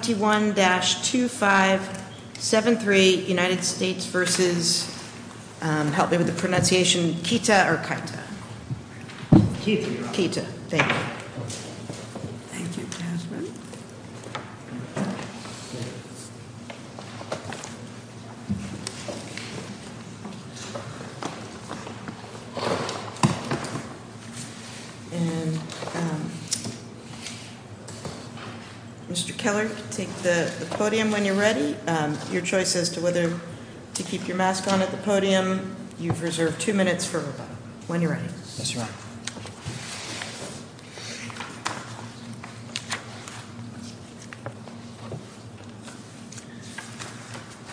21-2573 United States v. Keita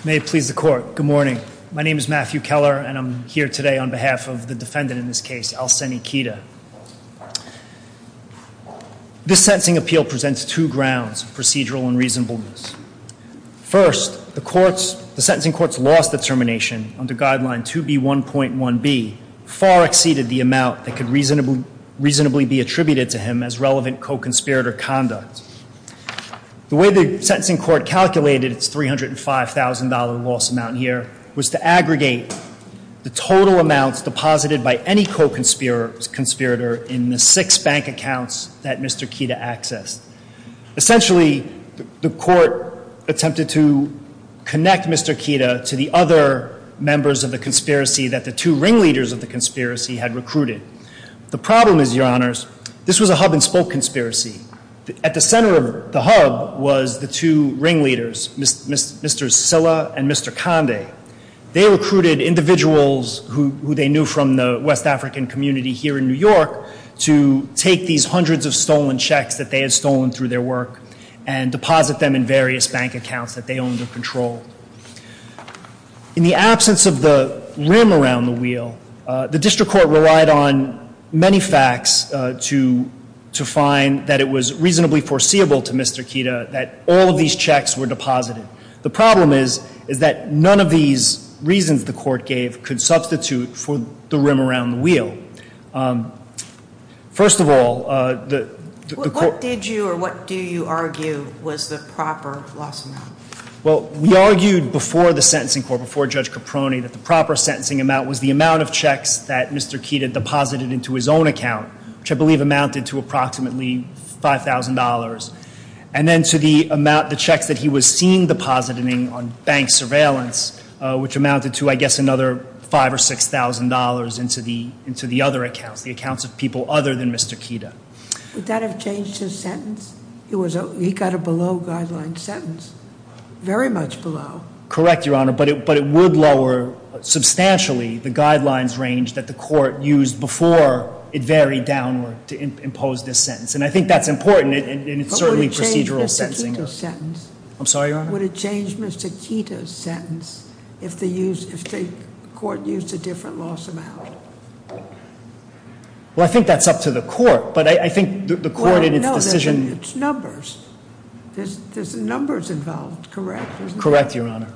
May it please the Court. Good morning. My name is Matthew Keller and I'm here today on behalf of the defendant in this case, Al-Seni Keita. This sentencing appeal presents two grounds of procedural unreasonableness. First, the sentencing court's loss determination under guideline 2B1.1b far exceeded the amount that could reasonably be attributed to him as relevant co-conspirator conduct. The way the sentencing court calculated its $305,000 loss amount here was to aggregate the total amounts deposited by any co-conspirator in the six bank accounts that Mr. Keita accessed. Essentially, the court attempted to connect Mr. Keita to the other members of the conspiracy that the two ringleaders of the conspiracy had recruited. The problem is, Your Honors, this was a hub and spoke conspiracy. At the center of the hub was the two ringleaders, Mr. Silla and the West African community here in New York, to take these hundreds of stolen checks that they had stolen through their work and deposit them in various bank accounts that they owned or controlled. In the absence of the rim around the wheel, the district court relied on many facts to find that it was reasonably foreseeable to Mr. Keita that all of these checks were deposited. The problem is, is that none of these reasons the court gave could substitute for the rim around the wheel. First of all, the court... What did you or what do you argue was the proper loss amount? Well, we argued before the sentencing court, before Judge Caproni, that the proper sentencing amount was the amount of checks that Mr. Keita deposited into his own account, which I believe amounted to approximately $5,000. And then to the amount, the checks that he was seeing deposited on bank surveillance, which amounted to, I guess, another $5,000 or $6,000 into the other accounts, the accounts of people other than Mr. Keita. Would that have changed his sentence? He got a below-guideline sentence. Very much below. Correct, Your Honor, but it would lower substantially the guidelines range that the court used before it varied downward to impose this sentence. And I think that's important, and it's certainly procedural sentencing. I'm sorry, Your Honor? Would it change Mr. Keita's sentence if the court used a different loss amount? Well, I think that's up to the court, but I think the court in its decision... Well, no, it's numbers. There's numbers involved, correct? Correct, Your Honor.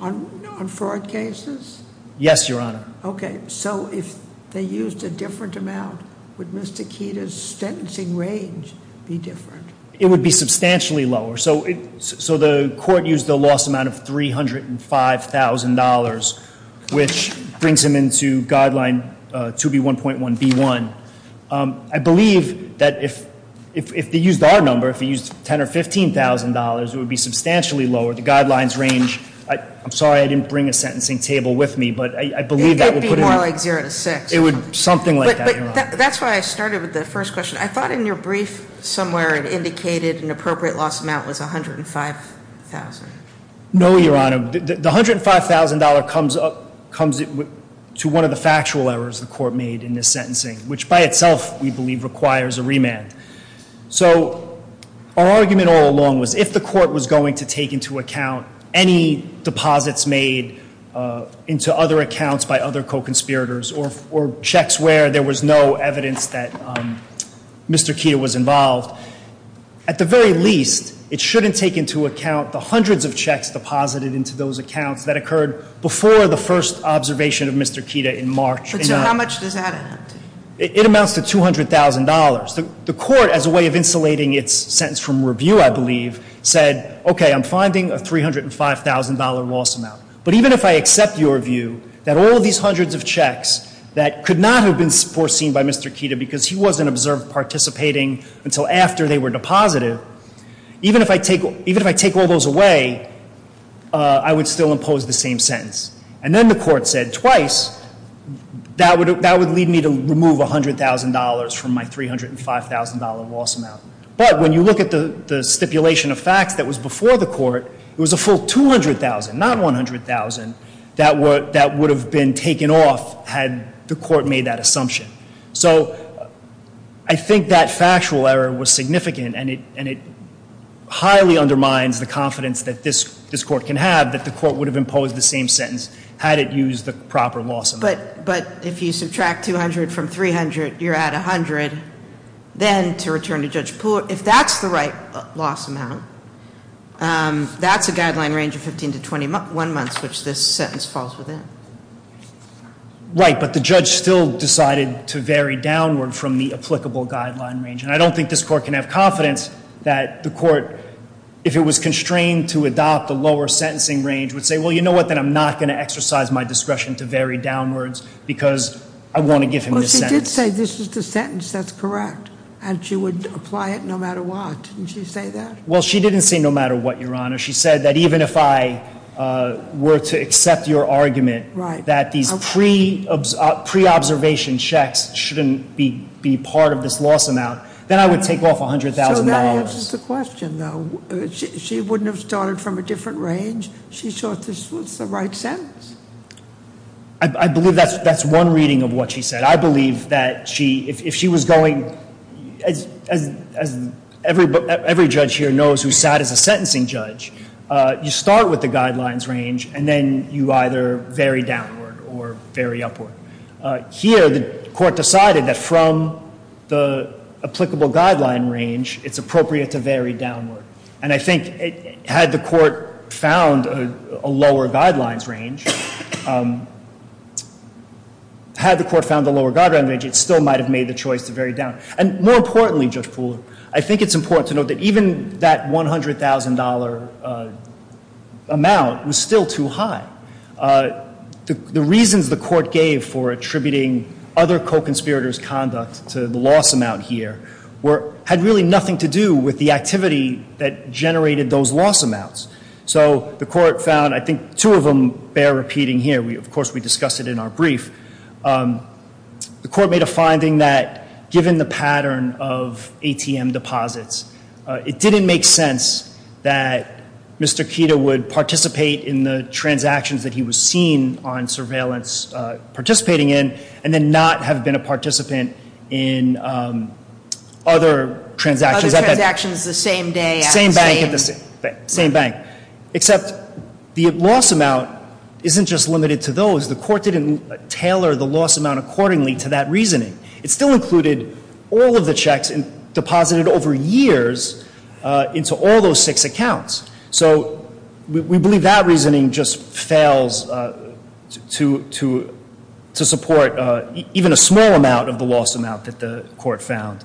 On fraud cases? Yes, Your Honor. Okay, so if they used a different amount, would Mr. Keita's sentencing range be different? It would be substantially lower. So the court used a loss amount of $305,000, which brings him into Guideline 2B1.1b1. I believe that if they used our number, if they used $10,000 or $15,000, it would be substantially lower. The guidelines range... I'm sorry I didn't bring a sentencing table with me, but I believe that would put it... It would be more like zero to six. It would be something like that, Your Honor. That's why I started with the first question. I thought in your brief somewhere it indicated an appropriate loss amount was $105,000. No, Your Honor. The $105,000 comes to one of the factual errors the court made in this sentencing, which by itself we believe requires a remand. So our argument all along was if the court was going to take into account any deposits made into other accounts by other co-conspirators or checks where there was no evidence that Mr. Kita was involved, at the very least it shouldn't take into account the hundreds of checks deposited into those accounts that occurred before the first observation of Mr. Kita in March. So how much does that amount to? It amounts to $200,000. The court, as a way of insulating its sentence from review, I believe, said, okay, I'm finding a $305,000 loss amount. But even if I accept your view that all of these hundreds of checks that could not have been foreseen by Mr. Kita because he wasn't observed participating until after they were deposited, even if I take all those away, I would still impose the same sentence. And then the court said twice, that would lead me to remove $100,000 from my $305,000 loss amount. But when you look at the stipulation of facts that was before the court, it was a full $200,000, not $100,000, that would have been taken off had the court made that assumption. So I think that factual error was significant, and it highly undermines the confidence that this court can have that the court would have imposed the same sentence had it used the proper loss amount. But if you subtract $200,000 from $300,000, you're at $100,000. Then to return to Judge Poole, if that's the right loss amount, that's a guideline range of 15 to 21 months, which this sentence falls within. Right, but the judge still decided to vary downward from the applicable guideline range. And I don't think this court can have confidence that the court, if it was constrained to adopt a lower sentencing range, would say, well, you know what, then I'm not going to exercise my discretion to vary downwards because I want to give him this sentence. She did say this is the sentence that's correct, and she would apply it no matter what. Didn't she say that? Well, she didn't say no matter what, Your Honor. She said that even if I were to accept your argument that these pre-observation checks shouldn't be part of this loss amount, then I would take off $100,000. So that answers the question, though. She wouldn't have started from a different range? She thought this was the right sentence. I believe that's one reading of what she said. I believe that if she was going, as every judge here knows who sat as a sentencing judge, you start with the guidelines range, and then you either vary downward or vary upward. Here, the court decided that from the applicable guideline range, it's appropriate to vary downward. And I think had the court found a lower guidelines range, it still might have made the choice to vary downward. And more importantly, Judge Pooler, I think it's important to note that even that $100,000 amount was still too high. The reasons the court gave for attributing other co-conspirators' conduct to the loss amount here had really nothing to do with the activity that generated those loss amounts. So the court found, I think two of them bear repeating here. Of course, we discussed it in our brief. The court made a finding that given the pattern of ATM deposits, it didn't make sense that Mr. Kita would participate in the transactions that he was seen on surveillance participating in and then not have been a participant in other transactions. Other transactions the same day. Same bank. Except the loss amount isn't just limited to those. The court didn't tailor the loss amount accordingly to that reasoning. It still included all of the checks deposited over years into all those six accounts. So we believe that reasoning just fails to support even a small amount of the loss amount that the court found.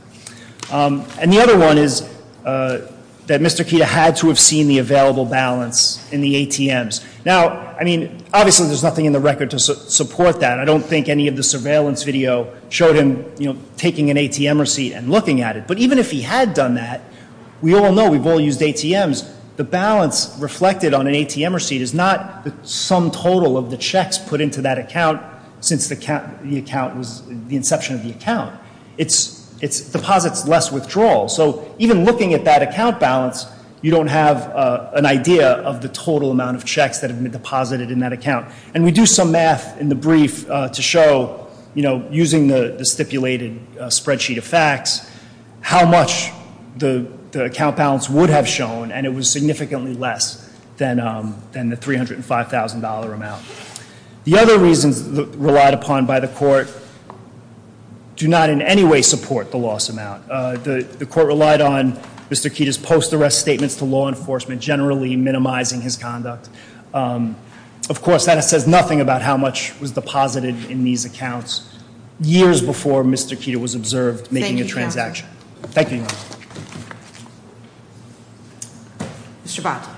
And the other one is that Mr. Kita had to have seen the available balance in the ATMs. Now, I mean, obviously there's nothing in the record to support that. I don't think any of the surveillance video showed him taking an ATM receipt and looking at it. But even if he had done that, we all know we've all used ATMs. The balance reflected on an ATM receipt is not the sum total of the checks put into that account since the account was the inception of the account. It deposits less withdrawal. So even looking at that account balance, you don't have an idea of the total amount of checks that have been deposited in that account. And we do some math in the brief to show, using the stipulated spreadsheet of facts, how much the account balance would have shown. And it was significantly less than the $305,000 amount. The other reasons relied upon by the court do not in any way support the loss amount. The court relied on Mr. Kita's post-arrest statements to law enforcement, generally minimizing his conduct. Of course, that says nothing about how much was deposited in these accounts years before Mr. Kita was observed making a transaction. Thank you, Your Honor. Thank you, Your Honor. Mr. Bhatt.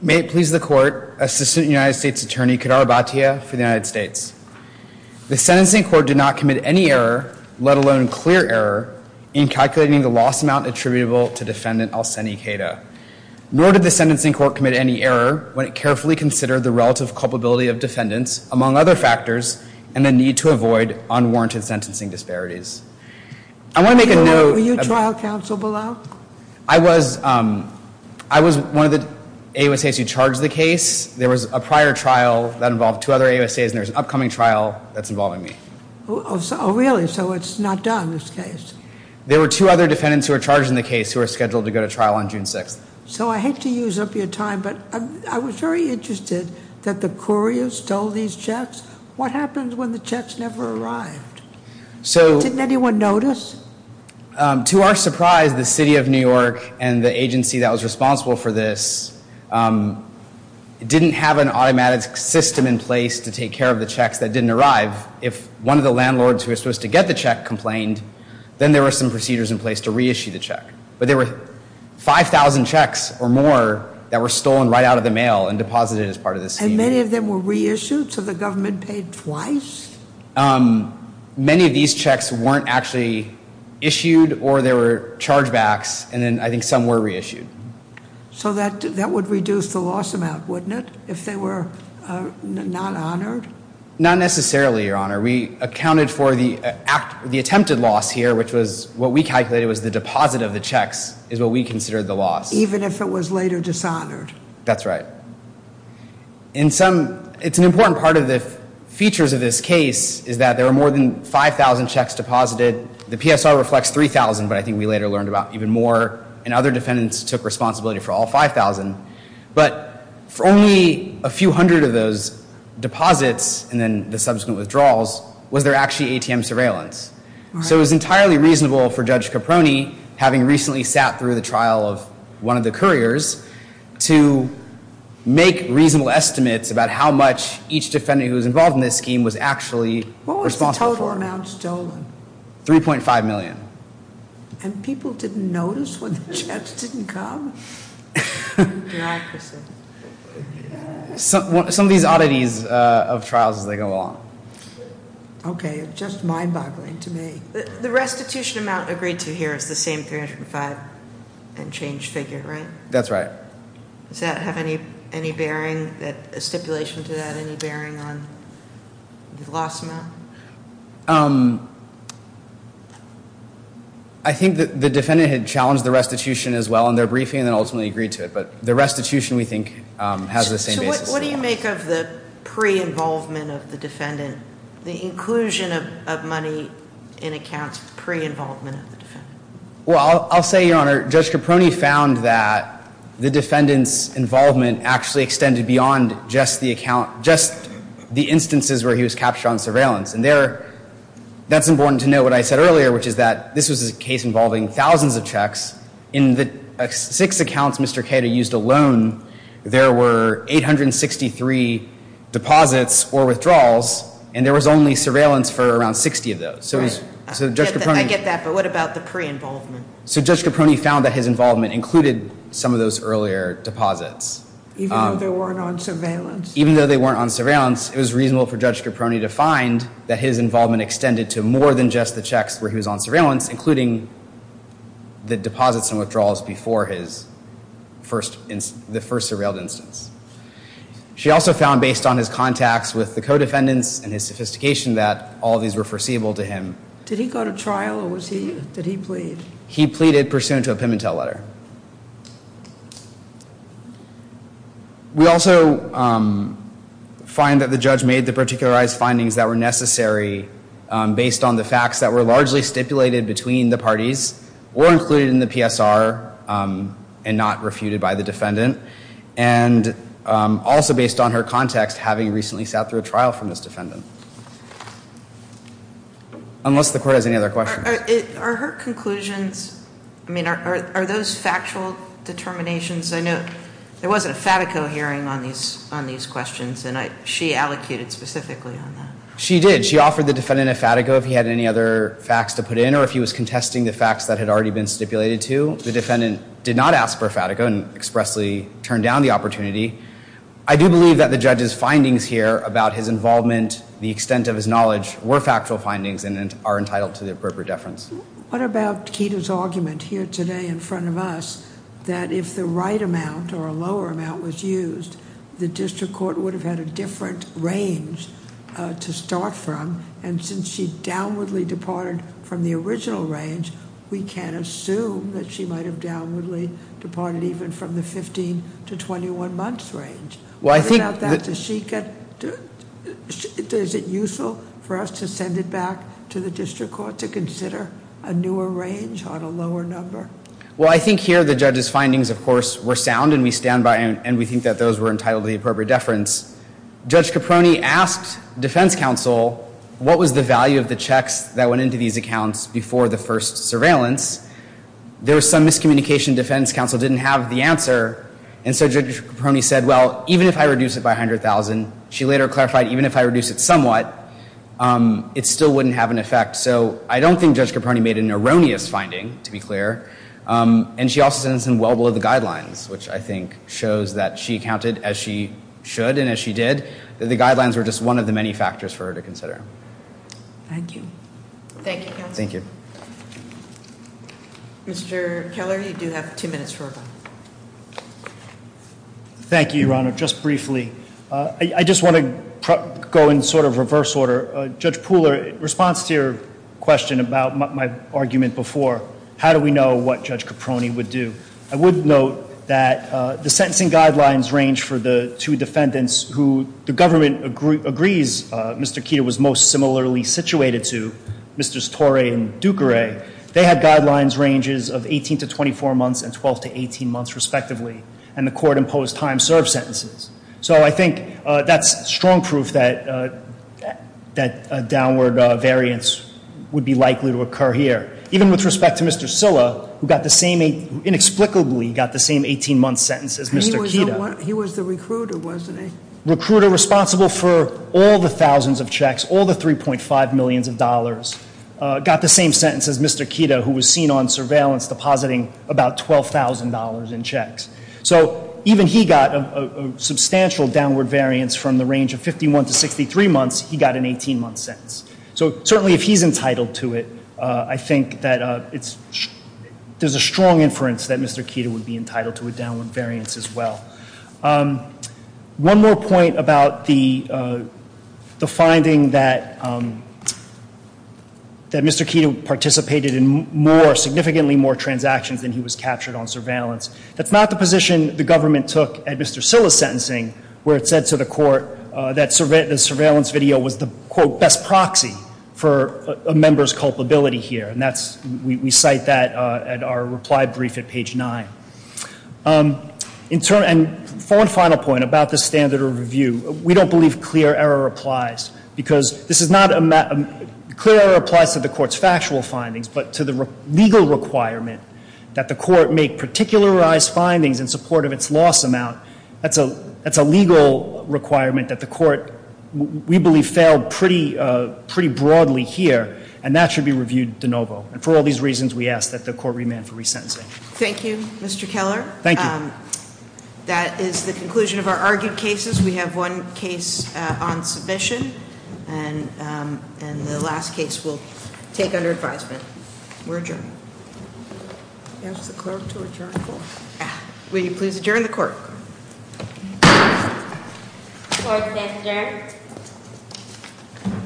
May it please the court, Assistant United States Attorney Kadar Bhatia for the United States. The sentencing court did not commit any error, let alone clear error, in calculating the loss amount attributable to Defendant Alseni Kita. Nor did the sentencing court commit any error when it carefully considered the relative cost of the transaction. among other factors, and the need to avoid unwarranted sentencing disparities. I want to make a note- Were you trial counsel below? I was one of the AUSAs who charged the case. There was a prior trial that involved two other AUSAs, and there's an upcoming trial that's involving me. Oh, really? So it's not done, this case? There were two other defendants who were charged in the case who were scheduled to go to trial on June 6th. So I hate to use up your time, but I was very interested that the couriers stole these checks. What happens when the checks never arrived? So- Didn't anyone notice? To our surprise, the city of New York and the agency that was responsible for this didn't have an automatic system in place to take care of the checks that didn't arrive. If one of the landlords who was supposed to get the check complained, then there were some procedures in place to reissue the check. But there were 5,000 checks or more that were stolen right out of the mail and deposited as part of the scheme. And many of them were reissued, so the government paid twice? Many of these checks weren't actually issued, or there were chargebacks, and then I think some were reissued. So that would reduce the loss amount, wouldn't it, if they were not honored? Not necessarily, Your Honor. We accounted for the attempted loss here, which was what we calculated was the deposit of the checks is what we considered the loss. Even if it was later dishonored? That's right. It's an important part of the features of this case is that there were more than 5,000 checks deposited. The PSR reflects 3,000, but I think we later learned about even more, and other defendants took responsibility for all 5,000. But for only a few hundred of those deposits and then the subsequent withdrawals, was there actually ATM surveillance? So it was entirely reasonable for Judge Caproni, having recently sat through the trial of one of the couriers, to make reasonable estimates about how much each defendant who was involved in this scheme was actually responsible for. What was the total amount stolen? 3.5 million. And people didn't notice when the checks didn't come? Bureaucracy. Some of these oddities of trials as they go along. Okay, it's just mind-boggling to me. The restitution amount agreed to here is the same 305 and change figure, right? That's right. Does that have any bearing, stipulation to that, any bearing on the loss amount? I think that the defendant had challenged the restitution as well in their briefing and ultimately agreed to it. But the restitution, we think, has the same basis. So what do you make of the pre-involvement of the defendant? The inclusion of money in accounts pre-involvement of the defendant? Well, I'll say, Your Honor, Judge Caproni found that the defendant's involvement actually extended beyond just the account, That's important to note what I said earlier, which is that this was a case involving thousands of checks. In the six accounts Mr. Cato used alone, there were 863 deposits or withdrawals, and there was only surveillance for around 60 of those. I get that, but what about the pre-involvement? So Judge Caproni found that his involvement included some of those earlier deposits. Even though they weren't on surveillance? In those six accounts, it was reasonable for Judge Caproni to find that his involvement extended to more than just the checks where he was on surveillance, including the deposits and withdrawals before his first, the first surveilled instance. She also found, based on his contacts with the co-defendants and his sophistication, that all of these were foreseeable to him. Did he go to trial or was he, did he plead? He pleaded pursuant to a Pimentel letter. We also find that the judge made the particularized findings that were necessary based on the facts that were largely stipulated between the parties, or included in the PSR and not refuted by the defendant, and also based on her context, having recently sat through a trial from this defendant. Unless the court has any other questions. Are her conclusions, I mean, are those factual determinations? I know there wasn't a FATICO hearing on these questions, and she allocated specifically on that. She did. She offered the defendant a FATICO if he had any other facts to put in, or if he was contesting the facts that had already been stipulated to. The defendant did not ask for a FATICO and expressly turned down the opportunity. I do believe that the judge's findings here about his involvement, the extent of his knowledge, were factual findings and are entitled to the appropriate deference. What about Kida's argument here today in front of us that if the right amount or a lower amount was used, the district court would have had a different range to start from, and since she downwardly departed from the original range, we can assume that she might have downwardly departed even from the 15 to 21 months range. What about that? Is it useful for us to send it back to the district court to consider a newer range on a lower number? Well, I think here the judge's findings, of course, were sound, and we think that those were entitled to the appropriate deference. Judge Caproni asked defense counsel, what was the value of the checks that went into these accounts before the first surveillance? There was some miscommunication defense counsel didn't have the answer, and so Judge Caproni said, well, even if I reduce it by $100,000, she later clarified, even if I reduce it somewhat, it still wouldn't have an effect. So I don't think Judge Caproni made an erroneous finding, to be clear, and she also said it was well below the guidelines, which I think shows that she counted as she should and as she did, that the guidelines were just one of the many factors for her to consider. Thank you. Thank you, counsel. Thank you. Mr. Keller, you do have two minutes for a vote. Thank you, Your Honor. Just briefly, I just want to go in sort of reverse order. Judge Pooler, in response to your question about my argument before, how do we know what Judge Caproni would do? I would note that the sentencing guidelines range for the two defendants who the government agrees Mr. Keeter was most similarly situated to, Mr. Storey and Duqueray. They had guidelines ranges of 18 to 24 months and 12 to 18 months, respectively, and the court imposed time served sentences. So I think that's strong proof that a downward variance would be likely to occur here. Even with respect to Mr. Silla, who inexplicably got the same 18-month sentence as Mr. Keeter. He was the recruiter, wasn't he? All the checks, all the $3.5 million, got the same sentence as Mr. Keeter, who was seen on surveillance depositing about $12,000 in checks. So even he got a substantial downward variance from the range of 51 to 63 months. He got an 18-month sentence. So certainly if he's entitled to it, I think that there's a strong inference that Mr. Keeter would be entitled to a downward variance as well. One more point about the finding that Mr. Keeter participated in significantly more transactions than he was captured on surveillance. That's not the position the government took at Mr. Silla's sentencing, where it said to the court that the surveillance video was the, quote, best proxy for a member's culpability here. We cite that at our reply brief at page 9. And for one final point about the standard of review, we don't believe clear error applies. Because this is not a – clear error applies to the court's factual findings, but to the legal requirement that the court make particularized findings in support of its loss amount. That's a legal requirement that the court, we believe, failed pretty broadly here, and that should be reviewed de novo. And for all these reasons, we ask that the court remand for resentencing. Thank you, Mr. Keller. Thank you. That is the conclusion of our argued cases. We have one case on submission, and the last case we'll take under advisement. We're adjourned. I'll ask the clerk to adjourn the court. Will you please adjourn the court? Court is adjourned.